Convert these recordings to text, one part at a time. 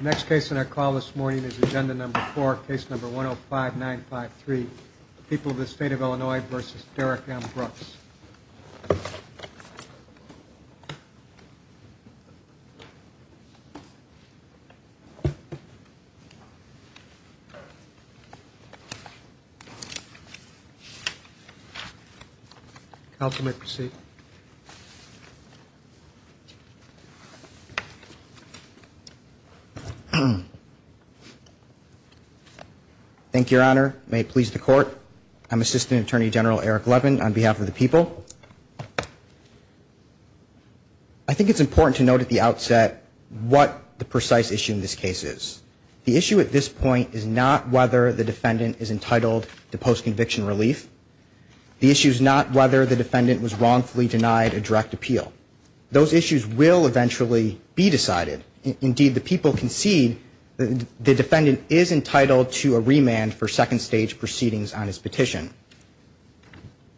Next case in our call this morning is agenda number four, case number 105953, People of the State of Illinois v. Derrick M. Brooks. Counsel may proceed. Thank you, Your Honor. May it please the Court. I'm Assistant Attorney General Eric Levin on behalf of the people. I think it's important to note at the outset what the precise issue in this case is. The issue at this point is not whether the defendant is entitled to post-conviction relief. The issue is not whether the defendant was wrongfully denied a direct appeal. Those issues will eventually be decided. Indeed, the people concede the defendant is entitled to a remand for second-stage proceedings on his petition.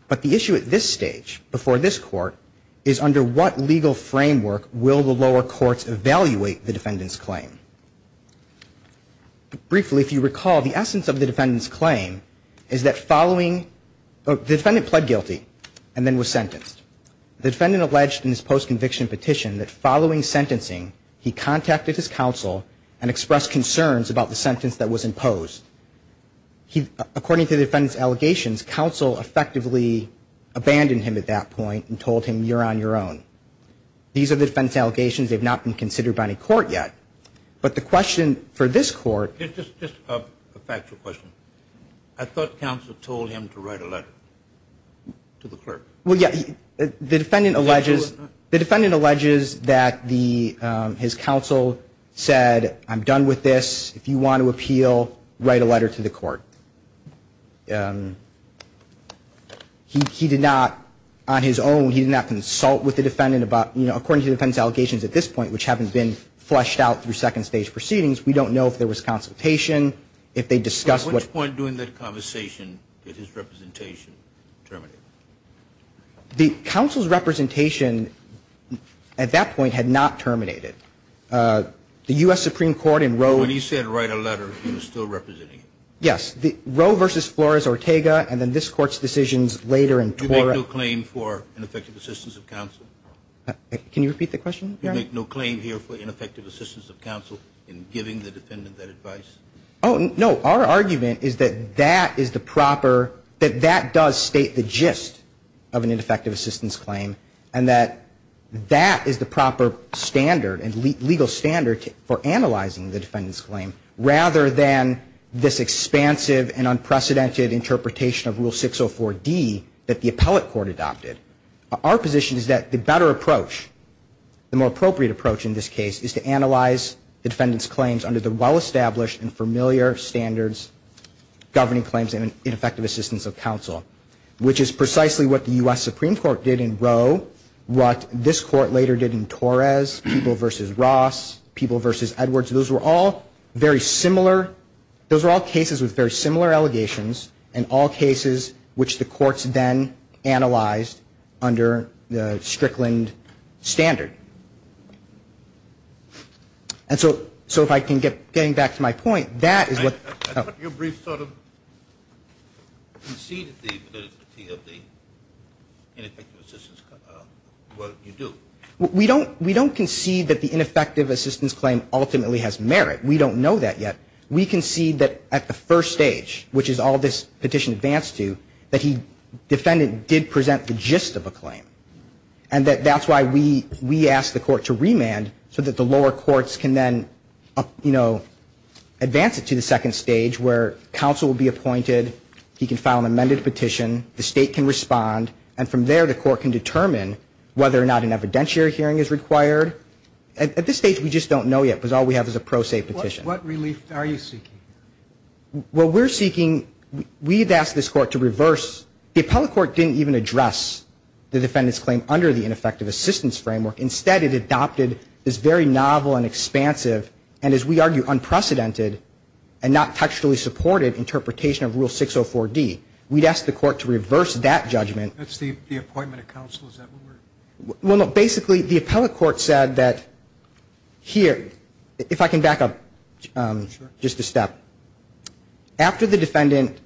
But the issue at this stage, before this Court, is under what legal framework will the lower courts evaluate the defendant's claim? Briefly, if you recall, the essence of the defendant's claim is that following the defendant pled guilty and then was sentenced. The defendant alleged in his post-conviction petition that following sentencing, he contacted his counsel and expressed concerns about the sentence that was imposed. According to the defendant's allegations, counsel effectively abandoned him at that point and told him, you're on your own. These are the defendant's allegations. They have not been considered by any court yet. But the question for this Court... Just a factual question. I thought counsel told him to write a letter to the clerk. Well, yeah. The defendant alleges that his counsel said, I'm done with this. If you want to appeal, write a letter to the court. He did not, on his own, he did not consult with the defendant about, you know, according to the defendant's allegations at this point, which haven't been fleshed out through second stage proceedings, we don't know if there was consultation, if they discussed what... At which point during that conversation did his representation terminate? The counsel's representation at that point had not terminated. The U.S. Supreme Court in Roe... You make no claim here for ineffective assistance of counsel in giving the defendant that advice? Oh, no. Our argument is that that is the proper, that that does state the gist of an ineffective assistance claim, and that that is the proper standard and legal standard for analyzing the defendant's claim, rather than this expansive and unprecedented interpretation of Rule 604D that the appellate court adopted. Our position is that the better approach, the more appropriate approach in this case, is to analyze the defendant's claims under the well-established and familiar standards governing claims and ineffective assistance of counsel, which is precisely what the U.S. Supreme Court did in Roe, what this court later did in Torres, People v. Ross, People v. Edwards. Those were all very similar, those were all cases with very similar allegations, and all cases which the courts then analyzed under the Strickland standard. And so if I can get, getting back to my point, that is what... I thought your brief sort of conceded the validity of the ineffective assistance, what you do. We don't concede that the ineffective assistance claim ultimately has merit. We don't know that yet. We concede that at the first stage, which is all this petition advanced to, that the defendant did present the gist of a claim, and that that's why we asked the court to remand so that the lower courts can then, you know, advance it to the second stage, where counsel will be appointed, he can file an amended petition, the state can respond, and from there the court can determine whether or not an evidentiary hearing is required. At this stage we just don't know yet, because all we have is a pro se petition. What relief are you seeking? Well, we're seeking, we've asked this court to reverse, the appellate court didn't even address the defendant's claim under the ineffective assistance framework. Instead it adopted this very novel and expansive, and as we argue, unprecedented and not textually supported interpretation of Rule 604D. We'd asked the court to reverse that judgment. Well, basically the appellate court said that here, if I can back up just a step, after the defendant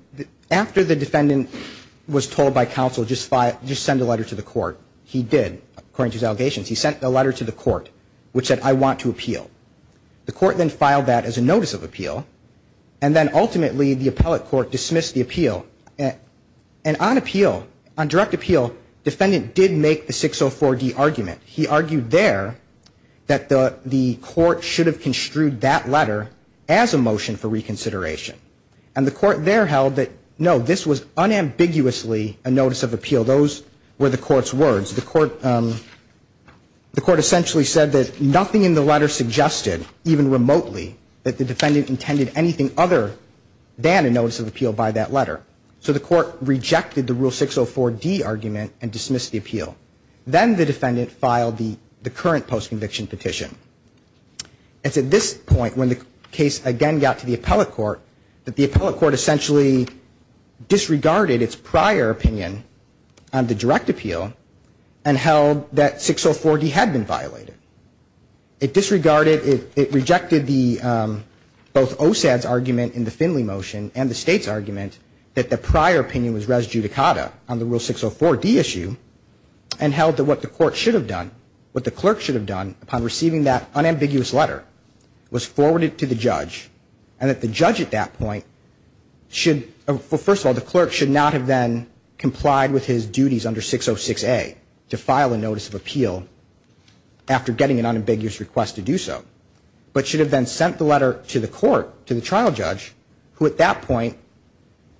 was told by counsel just send a letter to the court, he did, according to his allegations, he sent a letter to the court which said, I want to appeal. The court then filed that as a notice of appeal, and then ultimately the appellate court dismissed the appeal. And on appeal, on direct appeal, defendant did make the 604D argument. He argued there that the court should have construed that letter as a motion for reconsideration. And the court there held that, no, this was unambiguously a notice of appeal. Those were the court's words. The court essentially said that nothing in the letter suggested, even remotely, that the defendant intended anything other than a notice of appeal by that letter. So the court rejected the Rule 604D argument and dismissed the appeal. Then the defendant filed the current postconviction petition. It's at this point, when the case again got to the appellate court, that the appellate court essentially disregarded its prior opinion on the direct appeal and held that 604D had been violated. It disregarded, it rejected both OSAD's argument in the Finley motion and the State's argument that the prior opinion was res judicata on the Rule 604D issue, and held that what the court should have done, what the clerk should have done upon receiving that unambiguous letter was forward it to the judge, and that the judge at that point should, first of all, the clerk should not have then complied with his duties under 606A to file a notice of appeal after getting an unambiguous request to do so, but should have then sent the letter to the court, to the trial judge, who at that point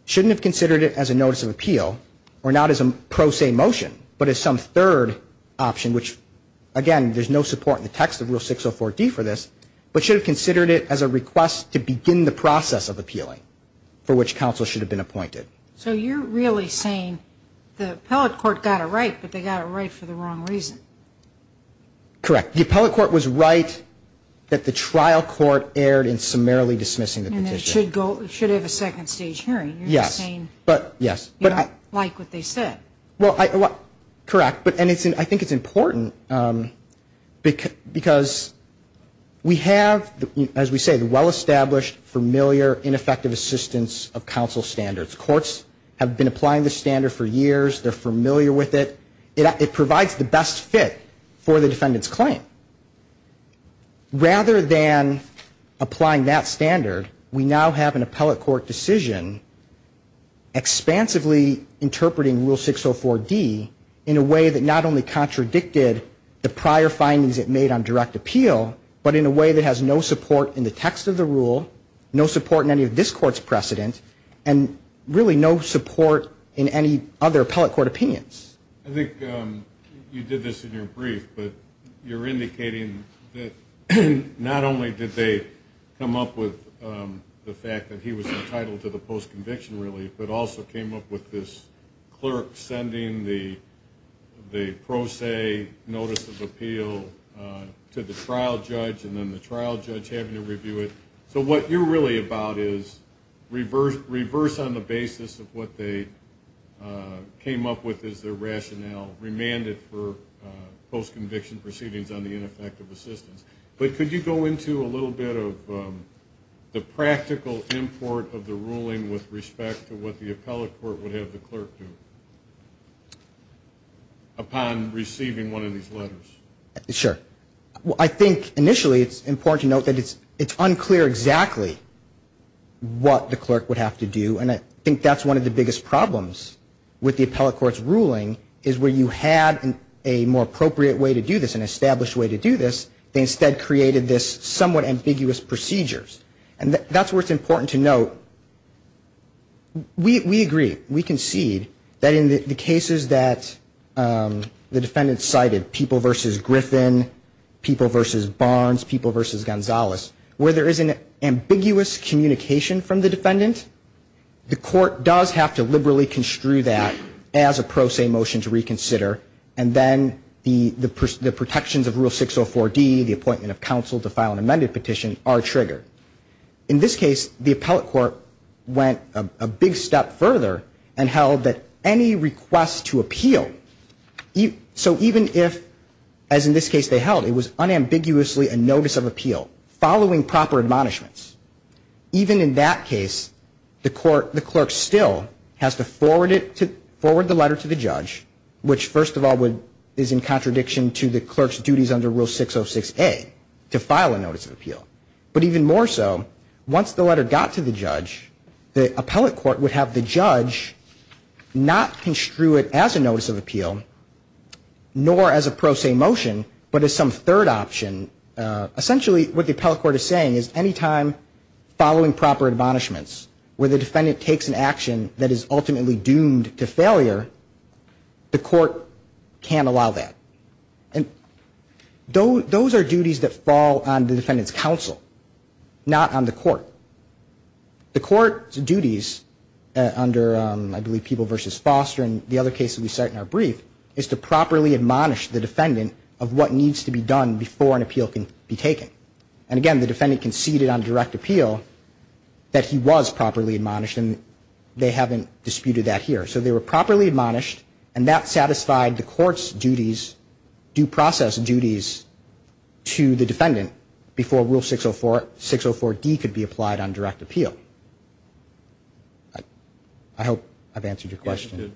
shouldn't have considered it as a notice of appeal, or not as a pro se motion, but as some third option, which, again, there's no support in the text of Rule 604D for this, but should have considered it as a request to begin the process of appealing for which counsel should have been appointed. So you're really saying the appellate court got it right, but they got it right for the wrong reason. Correct. The appellate court was right that the trial court erred in summarily dismissing the petition. And they should have a second stage hearing. You're saying you don't like what they said. Correct, and I think it's important because we have, as we say, well-established, familiar, ineffective assistance of counsel standards. Courts have been applying the standard for years. They're familiar with it. It provides the best fit for the defendant's claim. Rather than applying that standard, we now have an appellate court decision expansively interpreting Rule 604D in a way that not only contradicted the prior findings it made on direct appeal, but in a way that has no support in the text of the rule, no support in any of this Court's precedent, and really no support in any other appellate court opinions. I think you did this in your brief, but you're indicating that not only did they come up with the fact that he was entitled to the post-conviction relief, but also came up with this clerk sending the pro se notice of appeal to the trial judge and then the trial judge having to review it. So what you're really about is reverse on the basis of what they came up with as their rationale, remanded for post-conviction proceedings on the ineffective assistance. But could you go into a little bit of the practical import of the ruling with respect to what the appellate court would have the clerk do upon receiving one of these letters? Sure. I think initially it's important to note that it's unclear exactly what the clerk would have to do, and I think that's one of the biggest problems with the appellate court's ruling, is where you had a more appropriate way to do this, an established way to do this. They instead created this somewhat ambiguous procedures, and that's where it's important to note, we agree, we concede that in the cases that the defendant cited, people versus Griffin, people versus Barnes, people versus Gonzalez, where there is an ambiguous communication from the defendant, the court does have to liberally construe that as a pro se motion to reconsider, and then the protections of Rule 604D, the appointment of counsel to file an amended petition, are triggered. In this case, the appellate court went a big step further and held that any request to appeal, so even if, as in this case they held, it was unambiguously a notice of appeal, following proper admonishments, even in that case, the clerk still has to forward the letter to the judge, which first of all is in contradiction to the clerk's duties under Rule 606A, to file a notice of appeal. But even more so, once the letter got to the judge, the appellate court would have the judge not construe it as a notice of appeal, nor as a pro se motion, but as some third option. Essentially what the appellate court is saying is any time following proper admonishments, where the defendant takes an action that is ultimately doomed to failure, the court can't allow that. Those are duties that fall on the defendant's counsel, not on the court. The court's duties under, I believe, People v. Foster and the other cases we cite in our brief, is to properly admonish the defendant of what needs to be done before an appeal can be taken. And again, the defendant conceded on direct appeal that he was properly admonished, and they haven't disputed that here. So they were properly admonished, and that satisfied the court's duties, due process duties, to the defendant before Rule 604D could be applied on direct appeal. I hope I've answered your question.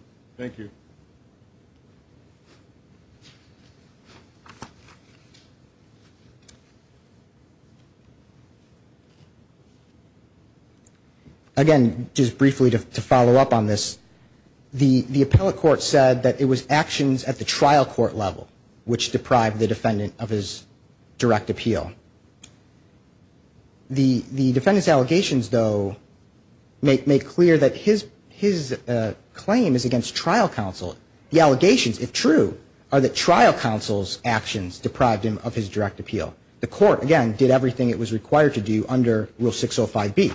Again, just briefly to follow up on this, the appellate court said that it was actions at the trial court level which deprived the defendant of his direct appeal. The defendant's allegations, though, make clear that his claim is against trial counsel. The allegations, if true, are that trial counsel's actions deprived him of his direct appeal. The court, again, did everything it was required to do under Rule 605B.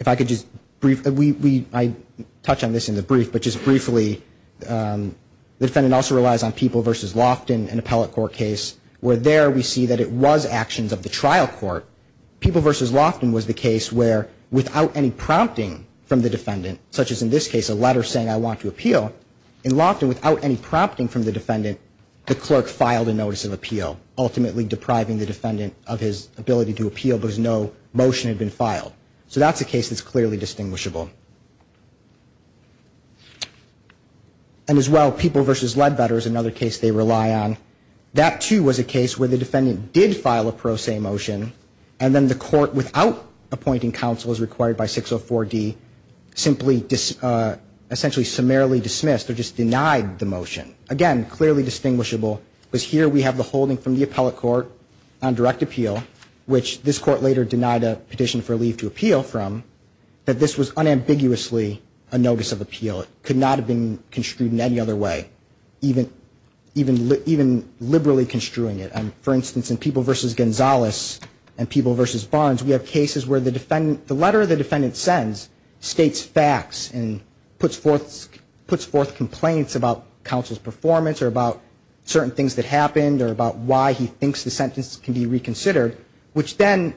If I could just briefly, I touch on this in the brief, but just briefly, the defendant also relies on People v. Loftin, an appellate court case, where there we see that it was actions of the trial court. People v. Loftin was the case where, without any prompting from the defendant, such as in this case, a letter saying, I want to appeal, in Loftin, without any prompting from the defendant, the clerk filed a notice of appeal, ultimately depriving the defendant of his ability to appeal because no motion had been filed. So that's a case that's clearly distinguishable. And, as well, People v. Ledbetter is another case they rely on. That, too, was a case where the defendant did file a pro se motion, and then the court, without appointing counsel as required by 604D, simply essentially summarily dismissed or just denied the motion. Again, clearly distinguishable, because here we have the holding from the appellate court on direct appeal, which this court later denied a petition for leave to appeal from, that this was unambiguously a notice of appeal. It could not have been construed in any other way, even liberally construing it. For instance, in People v. Gonzalez and People v. Barnes, we have cases where the letter the defendant sends states facts and puts forth complaints about counsel's performance or about certain things that happened or about why he thinks the sentence can be reconsidered, which then,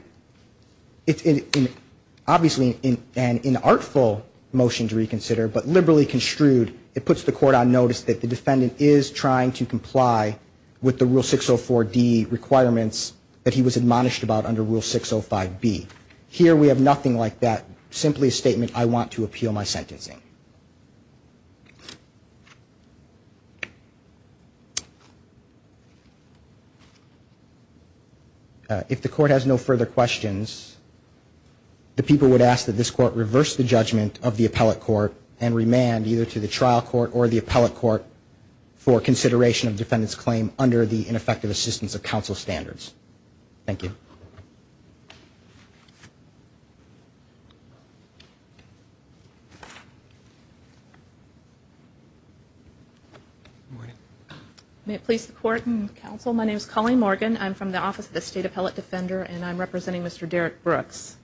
obviously an inartful motion to reconsider, but liberally construed, it puts the court on notice that the defendant is trying to comply with the rule 604D requirements that he was admonished about under rule 605B. Here we have nothing like that, simply a statement, I want to appeal my sentencing. If the court has no further questions, the people would ask that this court reverse the judgment of the appellate court and remand either to the trial court or the appellate court for consideration of the defendant's claim under the ineffective assistance of counsel standards. Thank you. Colleen Morgan. May it please the court and counsel, my name is Colleen Morgan. I'm from the Office of the State Appellate Defender and I'm representing Mr. Derrick Brooks.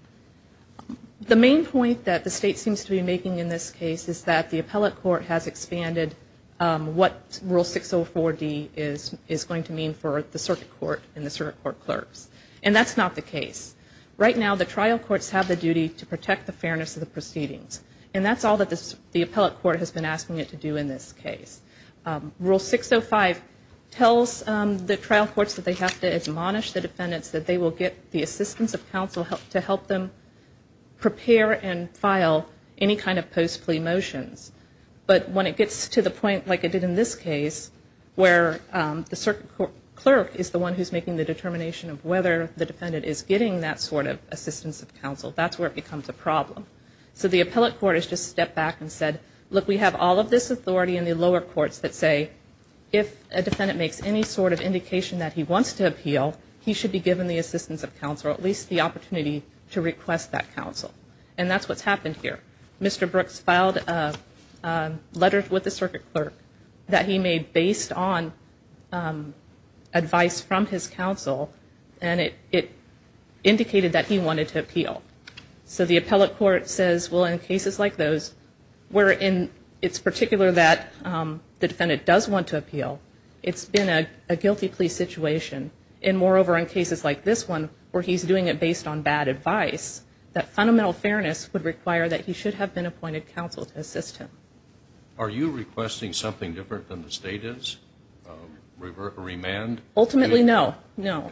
The main point that the state seems to be making in this case is that the appellate court has expanded what rule 604D is going to mean for the circuit court and the circuit court clerks. And that's not the case. Right now the trial courts have the duty to protect the fairness of the proceedings and that's all that the appellate court has been asking it to do in this case. Rule 605 tells the trial courts that they have to admonish the defendants that they will get the assistance of counsel to help them prepare and file any kind of post plea motions. But when it gets to the point like it did in this case where the circuit clerk is the one who's making the determination of whether the defendant is getting that sort of assistance of counsel, that's where it becomes a problem. So the appellate court has just stepped back and said, look, we have all of this authority in the lower courts that say if a defendant makes any sort of indication that he wants to appeal, he should be given the assistance of counsel or at least the opportunity to request that counsel. And that's what's happened here. Mr. Brooks filed a letter with the circuit clerk that he made based on advice from his counsel and it indicated that he wanted to appeal. So the appellate court says, well, in cases like those where it's particular that the defendant does want to appeal, it's been a guilty plea situation. And moreover, in cases like this one where he's doing it based on bad advice, that fundamental fairness would require that he should have been appointed counsel to assist him. Are you requesting something different than the state is? A remand? Ultimately, no. No.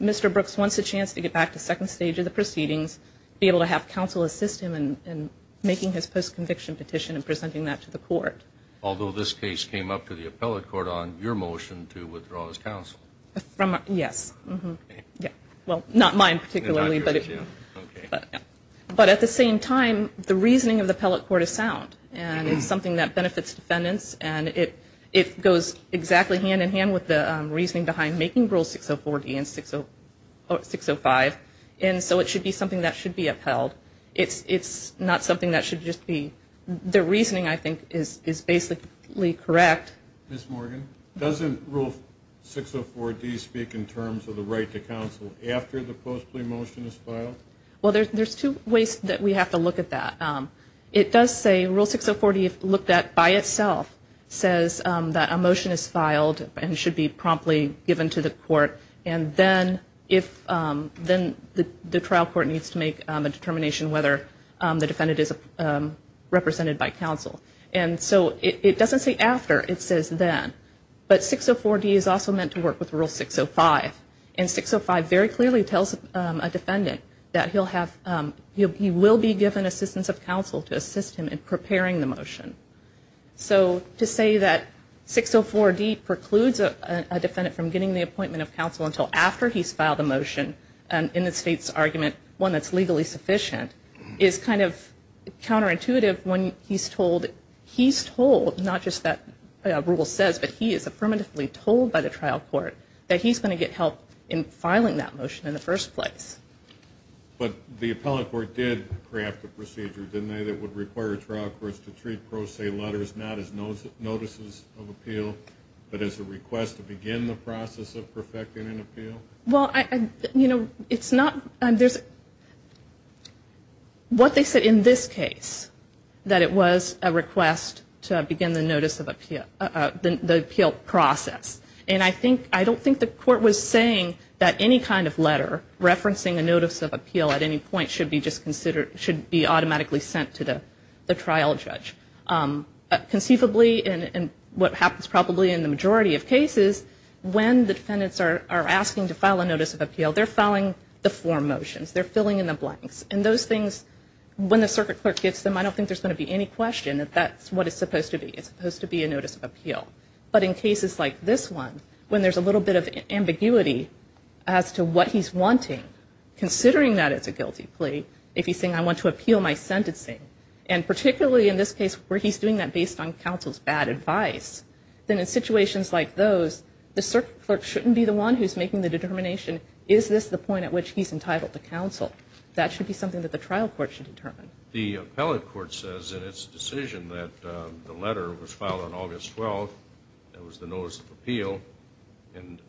Mr. Brooks wants a chance to get back to the second stage of the proceedings, be able to have counsel assist him in making his post conviction petition and presenting that to the court. Although this case came up to the appellate court on your motion to withdraw as counsel. Yes. Well, not mine particularly. But at the same time, the reasoning of the appellate court is sound and it's something that benefits defendants. And it goes exactly hand in hand with the reasoning behind making Rule 604D and 605. And so it should be something that should be upheld. It's not something that should just be the reasoning, I think, is basically correct. Ms. Morgan, doesn't Rule 604D speak in terms of the right to counsel after the post plea motion is filed? Well, there's two ways that we have to look at that. It does say Rule 604D, if looked at by itself, says that a motion is filed and should be promptly given to the court. And then if then the trial court needs to make a determination whether the defendant is represented by counsel. And so it doesn't say after, it says then. But 604D is also meant to work with Rule 605. And 605 very clearly tells a defendant that he will be given assistance of counsel to assist him in preparing the motion. So to say that 604D precludes a defendant from getting the appointment of counsel until after he's filed a motion in the state's argument, one that's legally sufficient, is kind of counterintuitive when he's told. He's told, not just that Rule says, but he is affirmatively told by the trial court that he's going to get help in filing that motion in the first place. But the appellate court did craft a procedure, didn't they, that would require trial courts to treat pro se letters not as notices of appeal, but as a request to begin the process of perfecting an appeal? Well, you know, it's not, there's, what they said in this case, that it was a request to begin the notice of appeal, the appeal process. And I think, I don't think the court was saying that any kind of letter referencing a notice of appeal at any point should be just considered, should be automatically sent to the trial judge. Conceivably, and what happens probably in the majority of cases, when the defendants are asking to file a notice of appeal, they're filing the form motions. They're filling in the blanks. And those things, when the circuit clerk gets them, I don't think there's going to be any question that that's what it's supposed to be. It's supposed to be a notice of appeal. But in cases like this one, when there's a little bit of ambiguity as to what he's wanting, considering that it's a guilty plea, if he's saying, I want to appeal my sentencing, and particularly in this case where he's doing that based on counsel's bad advice, then in situations like those, the circuit clerk shouldn't be the one who's making the determination, is this the point at which he's entitled to counsel? That should be something that the trial court should determine. The appellate court says in its decision that the letter was filed on August 12th, that was the notice of appeal, and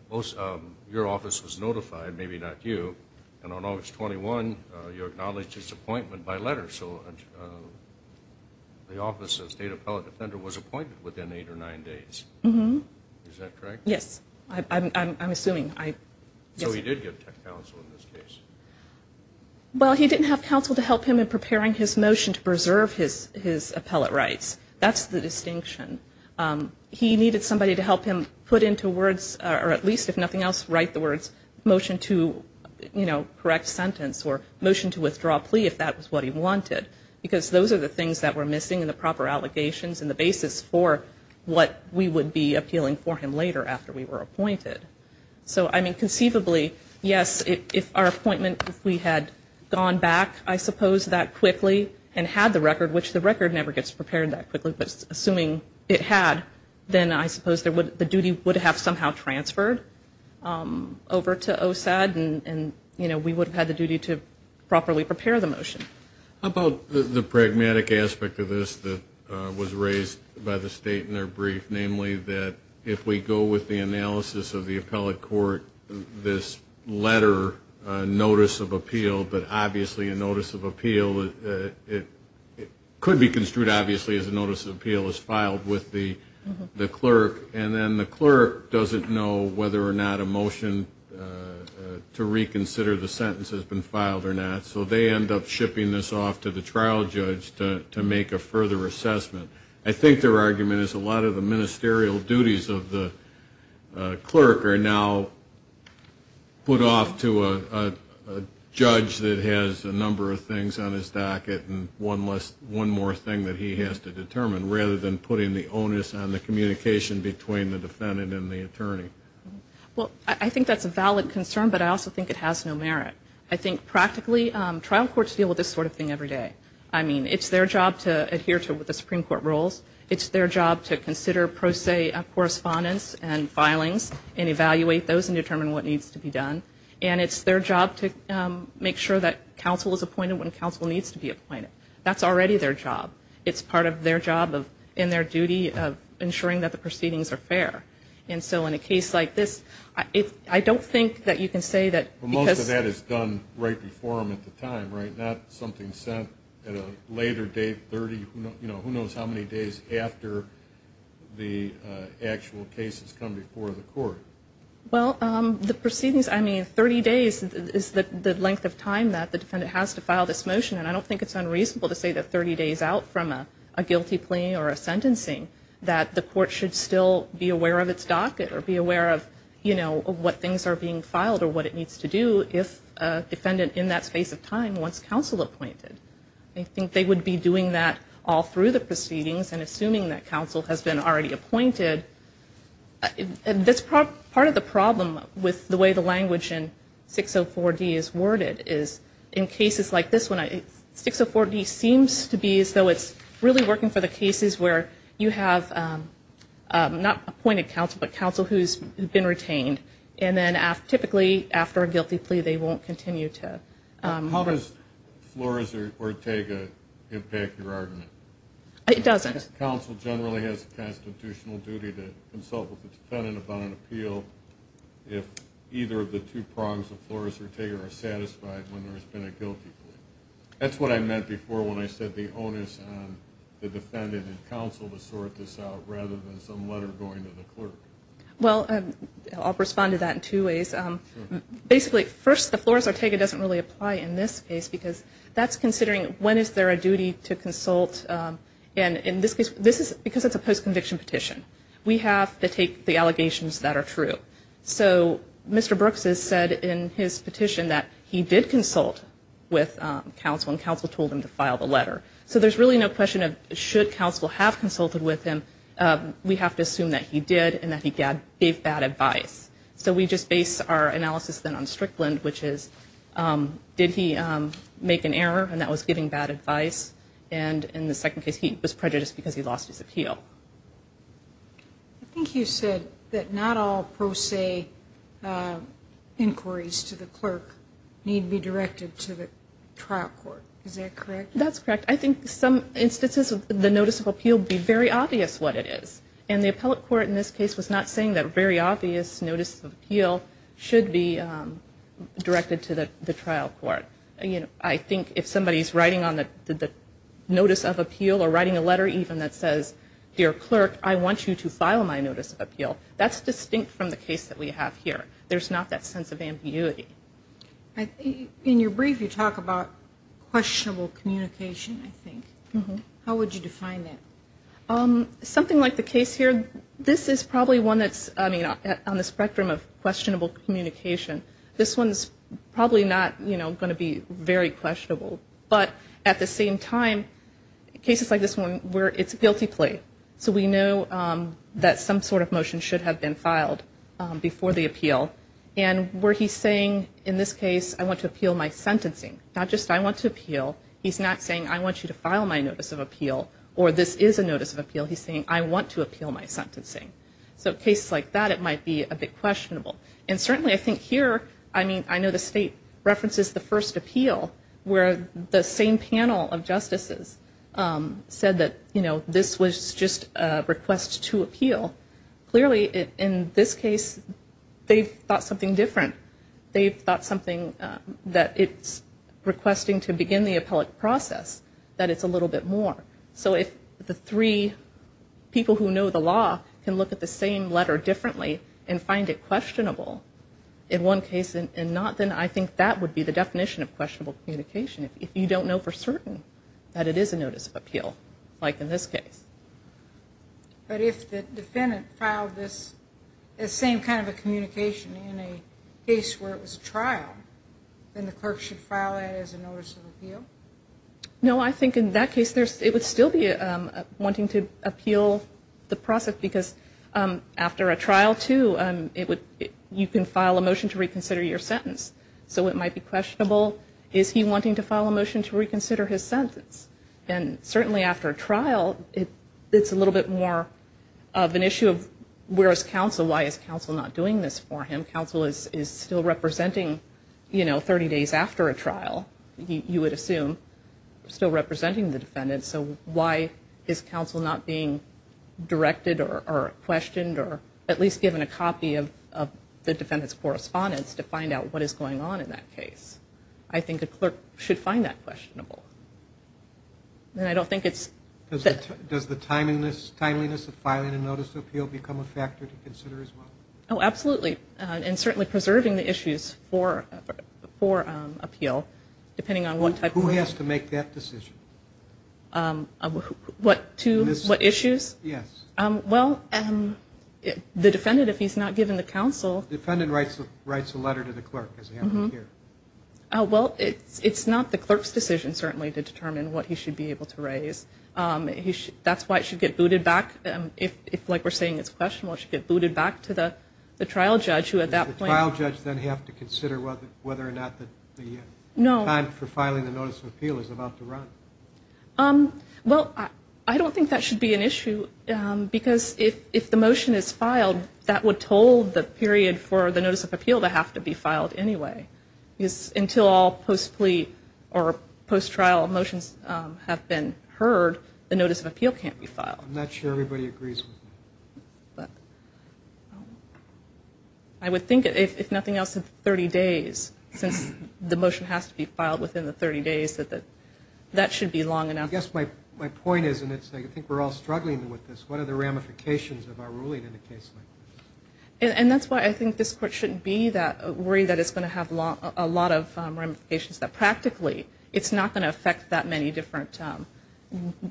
your office was notified, maybe not you, and on August 21, you acknowledged his appointment by letter. So the office of state appellate defender was appointed within eight or nine days. Is that correct? Yes, I'm assuming. So he did give counsel in this case. Well, he didn't have counsel to help him in preparing his motion to preserve his appellate rights. That's the distinction. He needed somebody to help him put into words, or at least if nothing else, write the words motion to correct sentence or motion to withdraw plea if that was what he wanted, because those are the things that were missing in the proper allegations and the basis for what we would be appealing for him later after we were appointed. So conceivably, yes, if our appointment, if we had gone back, I suppose, that quickly and had the record, which the record never gets prepared that quickly, but assuming it had, then I suppose the duty would have somehow transferred over to OSAD and we would have had the duty to properly prepare the motion. How about the pragmatic aspect of this that was raised by the state in their brief, namely that if we go with the analysis of the appellate court, this letter notice of appeal, but obviously a notice of appeal, it could be construed obviously as a notice of appeal as filed with the clerk and then the clerk doesn't know whether or not a motion to reconsider the sentence has been filed or not, so they end up shipping this off to the trial judge to make a further assessment. I think their argument is a lot of the ministerial duties of the clerk are now put off to a judge that has a number of things on his docket and one more thing that he has to determine rather than putting the onus on the communication between the defendant and the attorney. Well, I think that's a valid concern, but I also think it has no merit. I think practically trial courts deal with this sort of thing every day. I mean, it's their job to adhere to the Supreme Court rules. It's their job to consider pro se correspondence and filings and evaluate those and determine what needs to be done, and it's their job to make sure that counsel is appointed when counsel needs to be appointed. That's already their job. It's part of their job and their duty of ensuring that the proceedings are fair, and so in a case like this, I don't think that you can say that because... But most of that is done right before them at the time, right? Not something sent at a later date, 30 who knows how many days after the actual cases come before the court. Well, the proceedings, I mean, 30 days is the length of time that the defendant has to file this motion, and I don't think it's unreasonable to say that 30 days out from a guilty plea or a sentencing that the court should still be aware of its docket or be aware of what things are being filed or what it needs to do if a defendant in that space of time wants counsel appointed. I think they would be doing that all through the proceedings and assuming that counsel has been already appointed. Part of the problem with the way the language in 604D is worded is in cases like this one, 604D seems to be as though it's really working for the cases where you have not appointed counsel, but counsel who's been retained, and then typically after a guilty plea, they won't continue to... How does Flores or Ortega impact your argument? It doesn't. Counsel generally has a constitutional duty to consult with the defendant about an appeal if either of the two prongs of Flores or Ortega are satisfied when there's been a guilty plea. That's what I meant before when I said the onus on the defendant and counsel to sort this out rather than some letter going to the clerk. Well, I'll respond to that in two ways. Basically, first, the Flores or Ortega doesn't really apply in this case because that's considering when is there a duty to consult. And in this case, because it's a post-conviction petition, we have to take the allegations that are true. So Mr. Brooks has said in his petition that he did consult with counsel and counsel told him to file the letter. So there's really no question of should counsel have consulted with him, we have to assume that he did and that he gave bad advice. So we just base our analysis then on Strickland, which is did he make an error and that was giving bad advice. And in the second case, he was prejudiced because he lost his appeal. I think you said that not all pro se inquiries to the clerk need to be directed to the trial court. Is that correct? That's correct. I think some instances of the notice of appeal be very obvious what it is. And the appellate court in this case was not saying that very obvious notice of appeal should be directed to the trial court. I think if somebody's writing on the notice of appeal or writing a letter even that says, dear clerk, I want you to file my notice of appeal, that's distinct from the case that we have here. There's not that sense of ambiguity. In your brief, you talk about questionable communication, I think. How would you define that? Something like the case here, this is probably one that's on the spectrum of questionable communication. This one's probably not going to be very questionable. But at the same time, cases like this one where it's guilty plea. So we know that some sort of motion should have been filed before the appeal. And where he's saying in this case, I want to appeal my sentencing, not just I want to appeal. He's not saying I want you to file my notice of appeal or this is a notice of appeal. He's saying I want to appeal my sentencing. So cases like that, it might be a bit questionable. And certainly I think here, I mean, I know the state references the first appeal where the same panel of justices said that, you know, this was just a request to appeal. Clearly in this case, they've thought something different. They've thought something that it's requesting to begin the appellate process, that it's a little bit more. So if the three people who know the law can look at the same letter differently and find it questionable in one case and not then I think that would be the definition of questionable communication. If you don't know for certain that it is a notice of appeal, like in this case. But if the defendant filed this, the same kind of a communication in a case where it was a trial, then the clerk should file it as a notice of appeal? No, I think in that case, it would still be wanting to appeal the process because after a trial, too, you can file a motion to reconsider your sentence. So it might be questionable, is he wanting to file a motion to reconsider his sentence? And certainly after a trial, it's a little bit more of an issue of where is counsel? Why is counsel not doing this for him? Counsel is still representing, you know, 30 days after a trial, you would assume, still representing the defendant. So why is counsel not being directed or questioned or at least given a copy of the defendant's correspondence to find out what is going on in that case? I think a clerk should find that questionable. Does the timeliness of filing a notice of appeal become a factor to consider as well? Oh, absolutely. And certainly preserving the issues for appeal, depending on what type of... what issues? Well, the defendant, if he's not given the counsel... The defendant writes a letter to the clerk. Well, it's not the clerk's decision, certainly, to determine what he should be able to raise. That's why it should get booted back. If, like we're saying, it's questionable, it should get booted back to the trial judge, who at that point... Does the trial judge then have to consider whether or not the time for filing the notice of appeal is about to run? Well, I don't think that should be an issue, because if the motion is filed, that would told the period for the notice of appeal to have to be filed anyway. Because until all post-plea or post-trial motions have been heard, the notice of appeal can't be filed. I'm not sure everybody agrees with me. I would think, if nothing else, that 30 days, since the motion has to be filed within the 30 days, that that should be long enough. I guess my point is, and I think we're all struggling with this, what are the ramifications of our ruling in a case like this? And that's why I think this court shouldn't be worried that it's going to have a lot of ramifications, that practically it's not going to affect that many different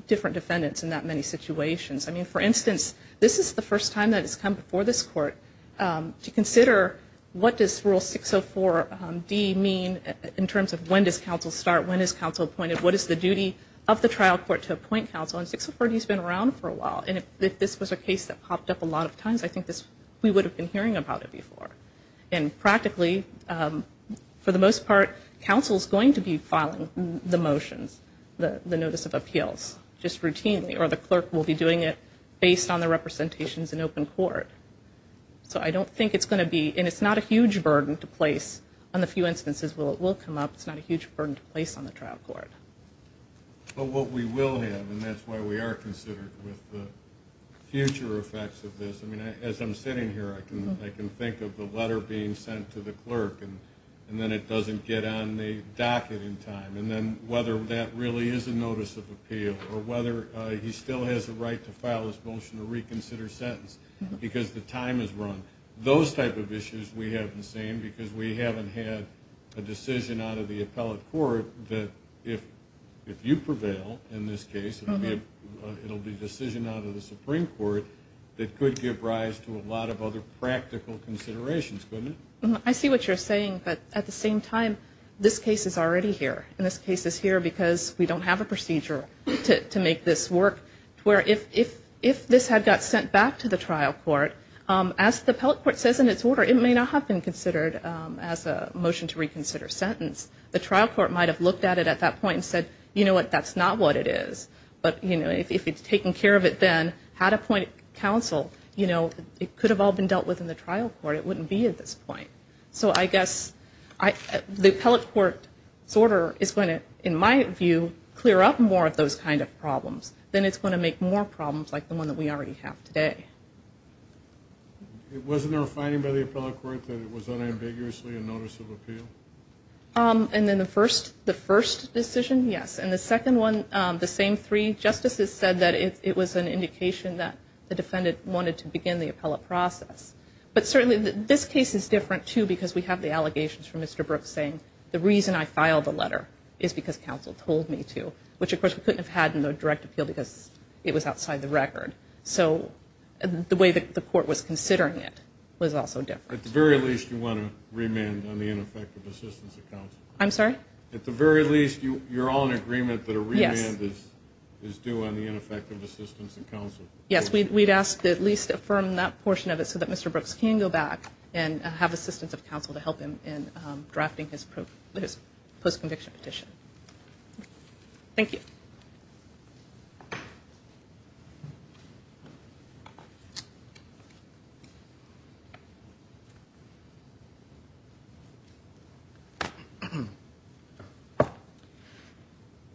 defendants in that many situations. I mean, for instance, this is the first time that it's come before this court to consider what does Rule 604D mean in terms of when does counsel start, when is counsel appointed, what is the duty of the trial court to appoint counsel? And 604D has been around for a while, and if this was a case that popped up a lot of times, I think we would have been hearing about it before. And practically, for the most part, counsel is going to be filing the motions, the notice of appeals, just routinely, or the clerk will be doing it based on the representations in open court. So I don't think it's going to be, and it's not a huge burden to place on the few instances where it will come up, it's not a huge burden to place on the trial court. But what we will have, and that's why we are considered with the future effects of this, I mean, as I'm sitting here, I can think of the letter being sent to the clerk, and then it doesn't get on the docket in time, and then whether that really is a notice of appeal, or whether he still has the right to file his motion to reconsider sentence, because the time is run. Those type of issues we haven't seen, because we haven't had a decision out of the appellate court that if you prevail in this case, it will be a decision out of the Supreme Court that could give rise to a lot of other practical considerations, couldn't it? I see what you're saying, but at the same time, this case is already here. And this case is here because we don't have a procedure to make this work, where if this had got sent back to the trial court, as the appellate court says in its order, it may not have been considered as a motion to reconsider sentence. The trial court might have looked at it at that point and said, you know what, that's not what it is. But if it's taken care of it then, had appointed counsel, it could have all been dealt with in the trial court. It wouldn't be at this point. So I guess the appellate court's order is going to, in my view, clear up more of those kind of problems. Then it's going to make more problems like the one that we already have today. Wasn't there a finding by the appellate court that it was unambiguously a notice of appeal? And then the first decision, yes. And the second one, the same three justices said that it was an indication that the defendant wanted to begin the appellate process. But certainly this case is different, too, because we have the allegations from Mr. Brooks saying, the reason I filed the letter is because counsel told me to. Which, of course, we couldn't have had in the direct appeal because it was outside the record. So the way that the court was considering it was also different. At the very least, you want to remand on the ineffective assistance of counsel. So that Mr. Brooks can go back and have assistance of counsel to help him in drafting his post-conviction petition. Thank you.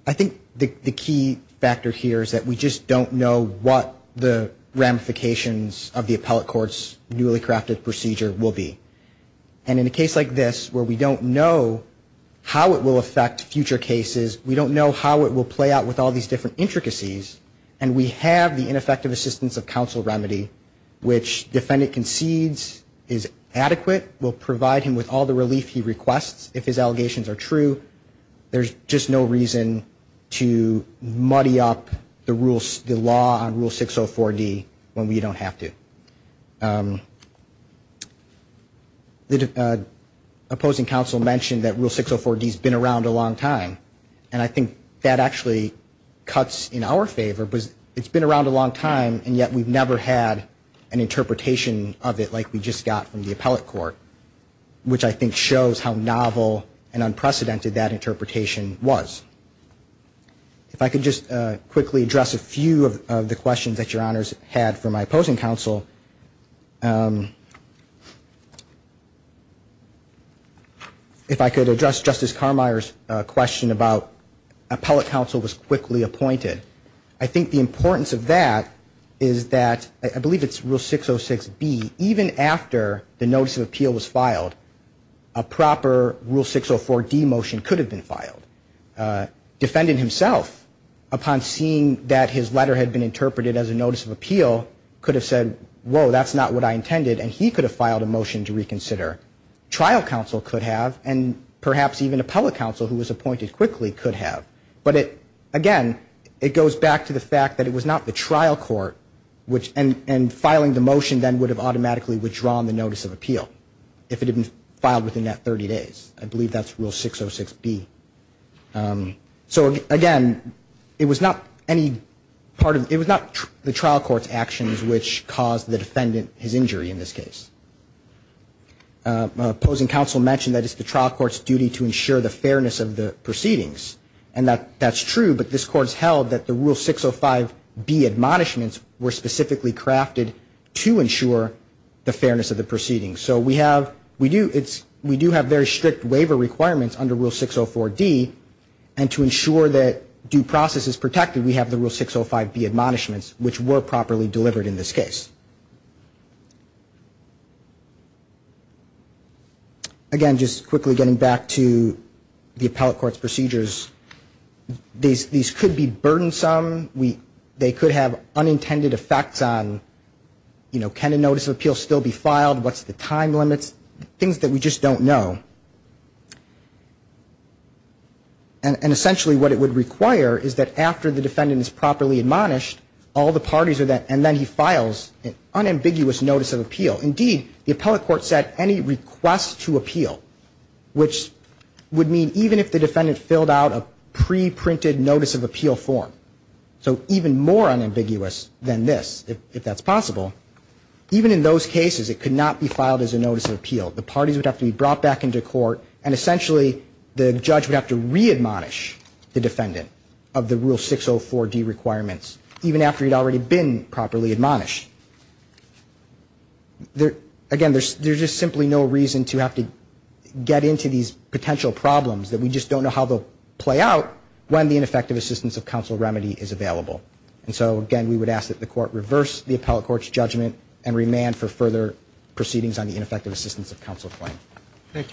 I think the key factor here is that we just don't know what the ramifications of the appellate courts newly crafted procedure will be. And in a case like this where we don't know how it will affect future cases, we don't know how it will play out with all these different intricacies, and we have the ineffective assistance of counsel remedy, which defendant concedes is adequate, will provide him with all the relief he requests if his allegations are true, there's just no reason to muddy up the law on Rule 604D when we don't have to. Opposing counsel mentioned that Rule 604D has been around a long time, and I think that actually cuts in our favor because it's been around a long time, and yet we've never had an interpretation of it like we just got from the appellate court, which I think shows how novel and unprecedented that interpretation was. If I could just quickly address a few of the questions that Your Honors had for my opposing counsel. If I could address Justice Carmier's question about appellate counsel was quickly appointed. I think the importance of that is that I believe it's Rule 606B, even after the notice of appeal was filed, a proper Rule 604D motion could have been filed. Defendant himself, upon seeing that his letter had been interpreted as a notice of appeal, could have said, whoa, that's not what I intended, and he could have filed a motion to reconsider. Trial counsel could have, and perhaps even appellate counsel who was appointed quickly could have. But again, it goes back to the fact that it was not the trial court, and filing the motion then would have automatically withdrawn the notice of appeal, if it had been filed within that 30 days. I believe that's Rule 606B. So again, it was not the trial court's actions which caused the defendant his injury in this case. Opposing counsel mentioned that it's the trial court's duty to ensure the fairness of the proceedings, and that's true, but this Court has held that the Rule 605B admonishments were specifically crafted to ensure the fairness of the proceedings. So we do have very strict waiver requirements under Rule 604D, and to ensure that due process is protected, we have the Rule 605B admonishments, which were properly delivered in this case. Again, just quickly getting back to the appellate court's procedures, these could be burdensome. They could have unintended effects on, you know, can a notice of appeal still be filed? What's the time limits? Things that we just don't know. And essentially what it would require is that after the defendant is properly admonished, all the parties are then, and then he files an unambiguous notice of appeal. Indeed, the appellate court set any request to appeal, which would mean even if the defendant filled out a preprinted notice of appeal form, so even more unambiguous than this, if that's possible, even in those cases it could not be filed as a notice of appeal. The parties would have to be brought back into court, and essentially the judge would have to re-admonish the defendant of the Rule 604D requirements, even after he'd already been properly admonished. Again, there's just simply no reason to have to get into these potential problems that we just don't know how they'll play out when the ineffective assistance of counsel remedy is available. And so, again, we would ask that the court reverse the appellate court's judgment and remand for further proceedings on the ineffective assistance of counsel claim. Thank you, counsel.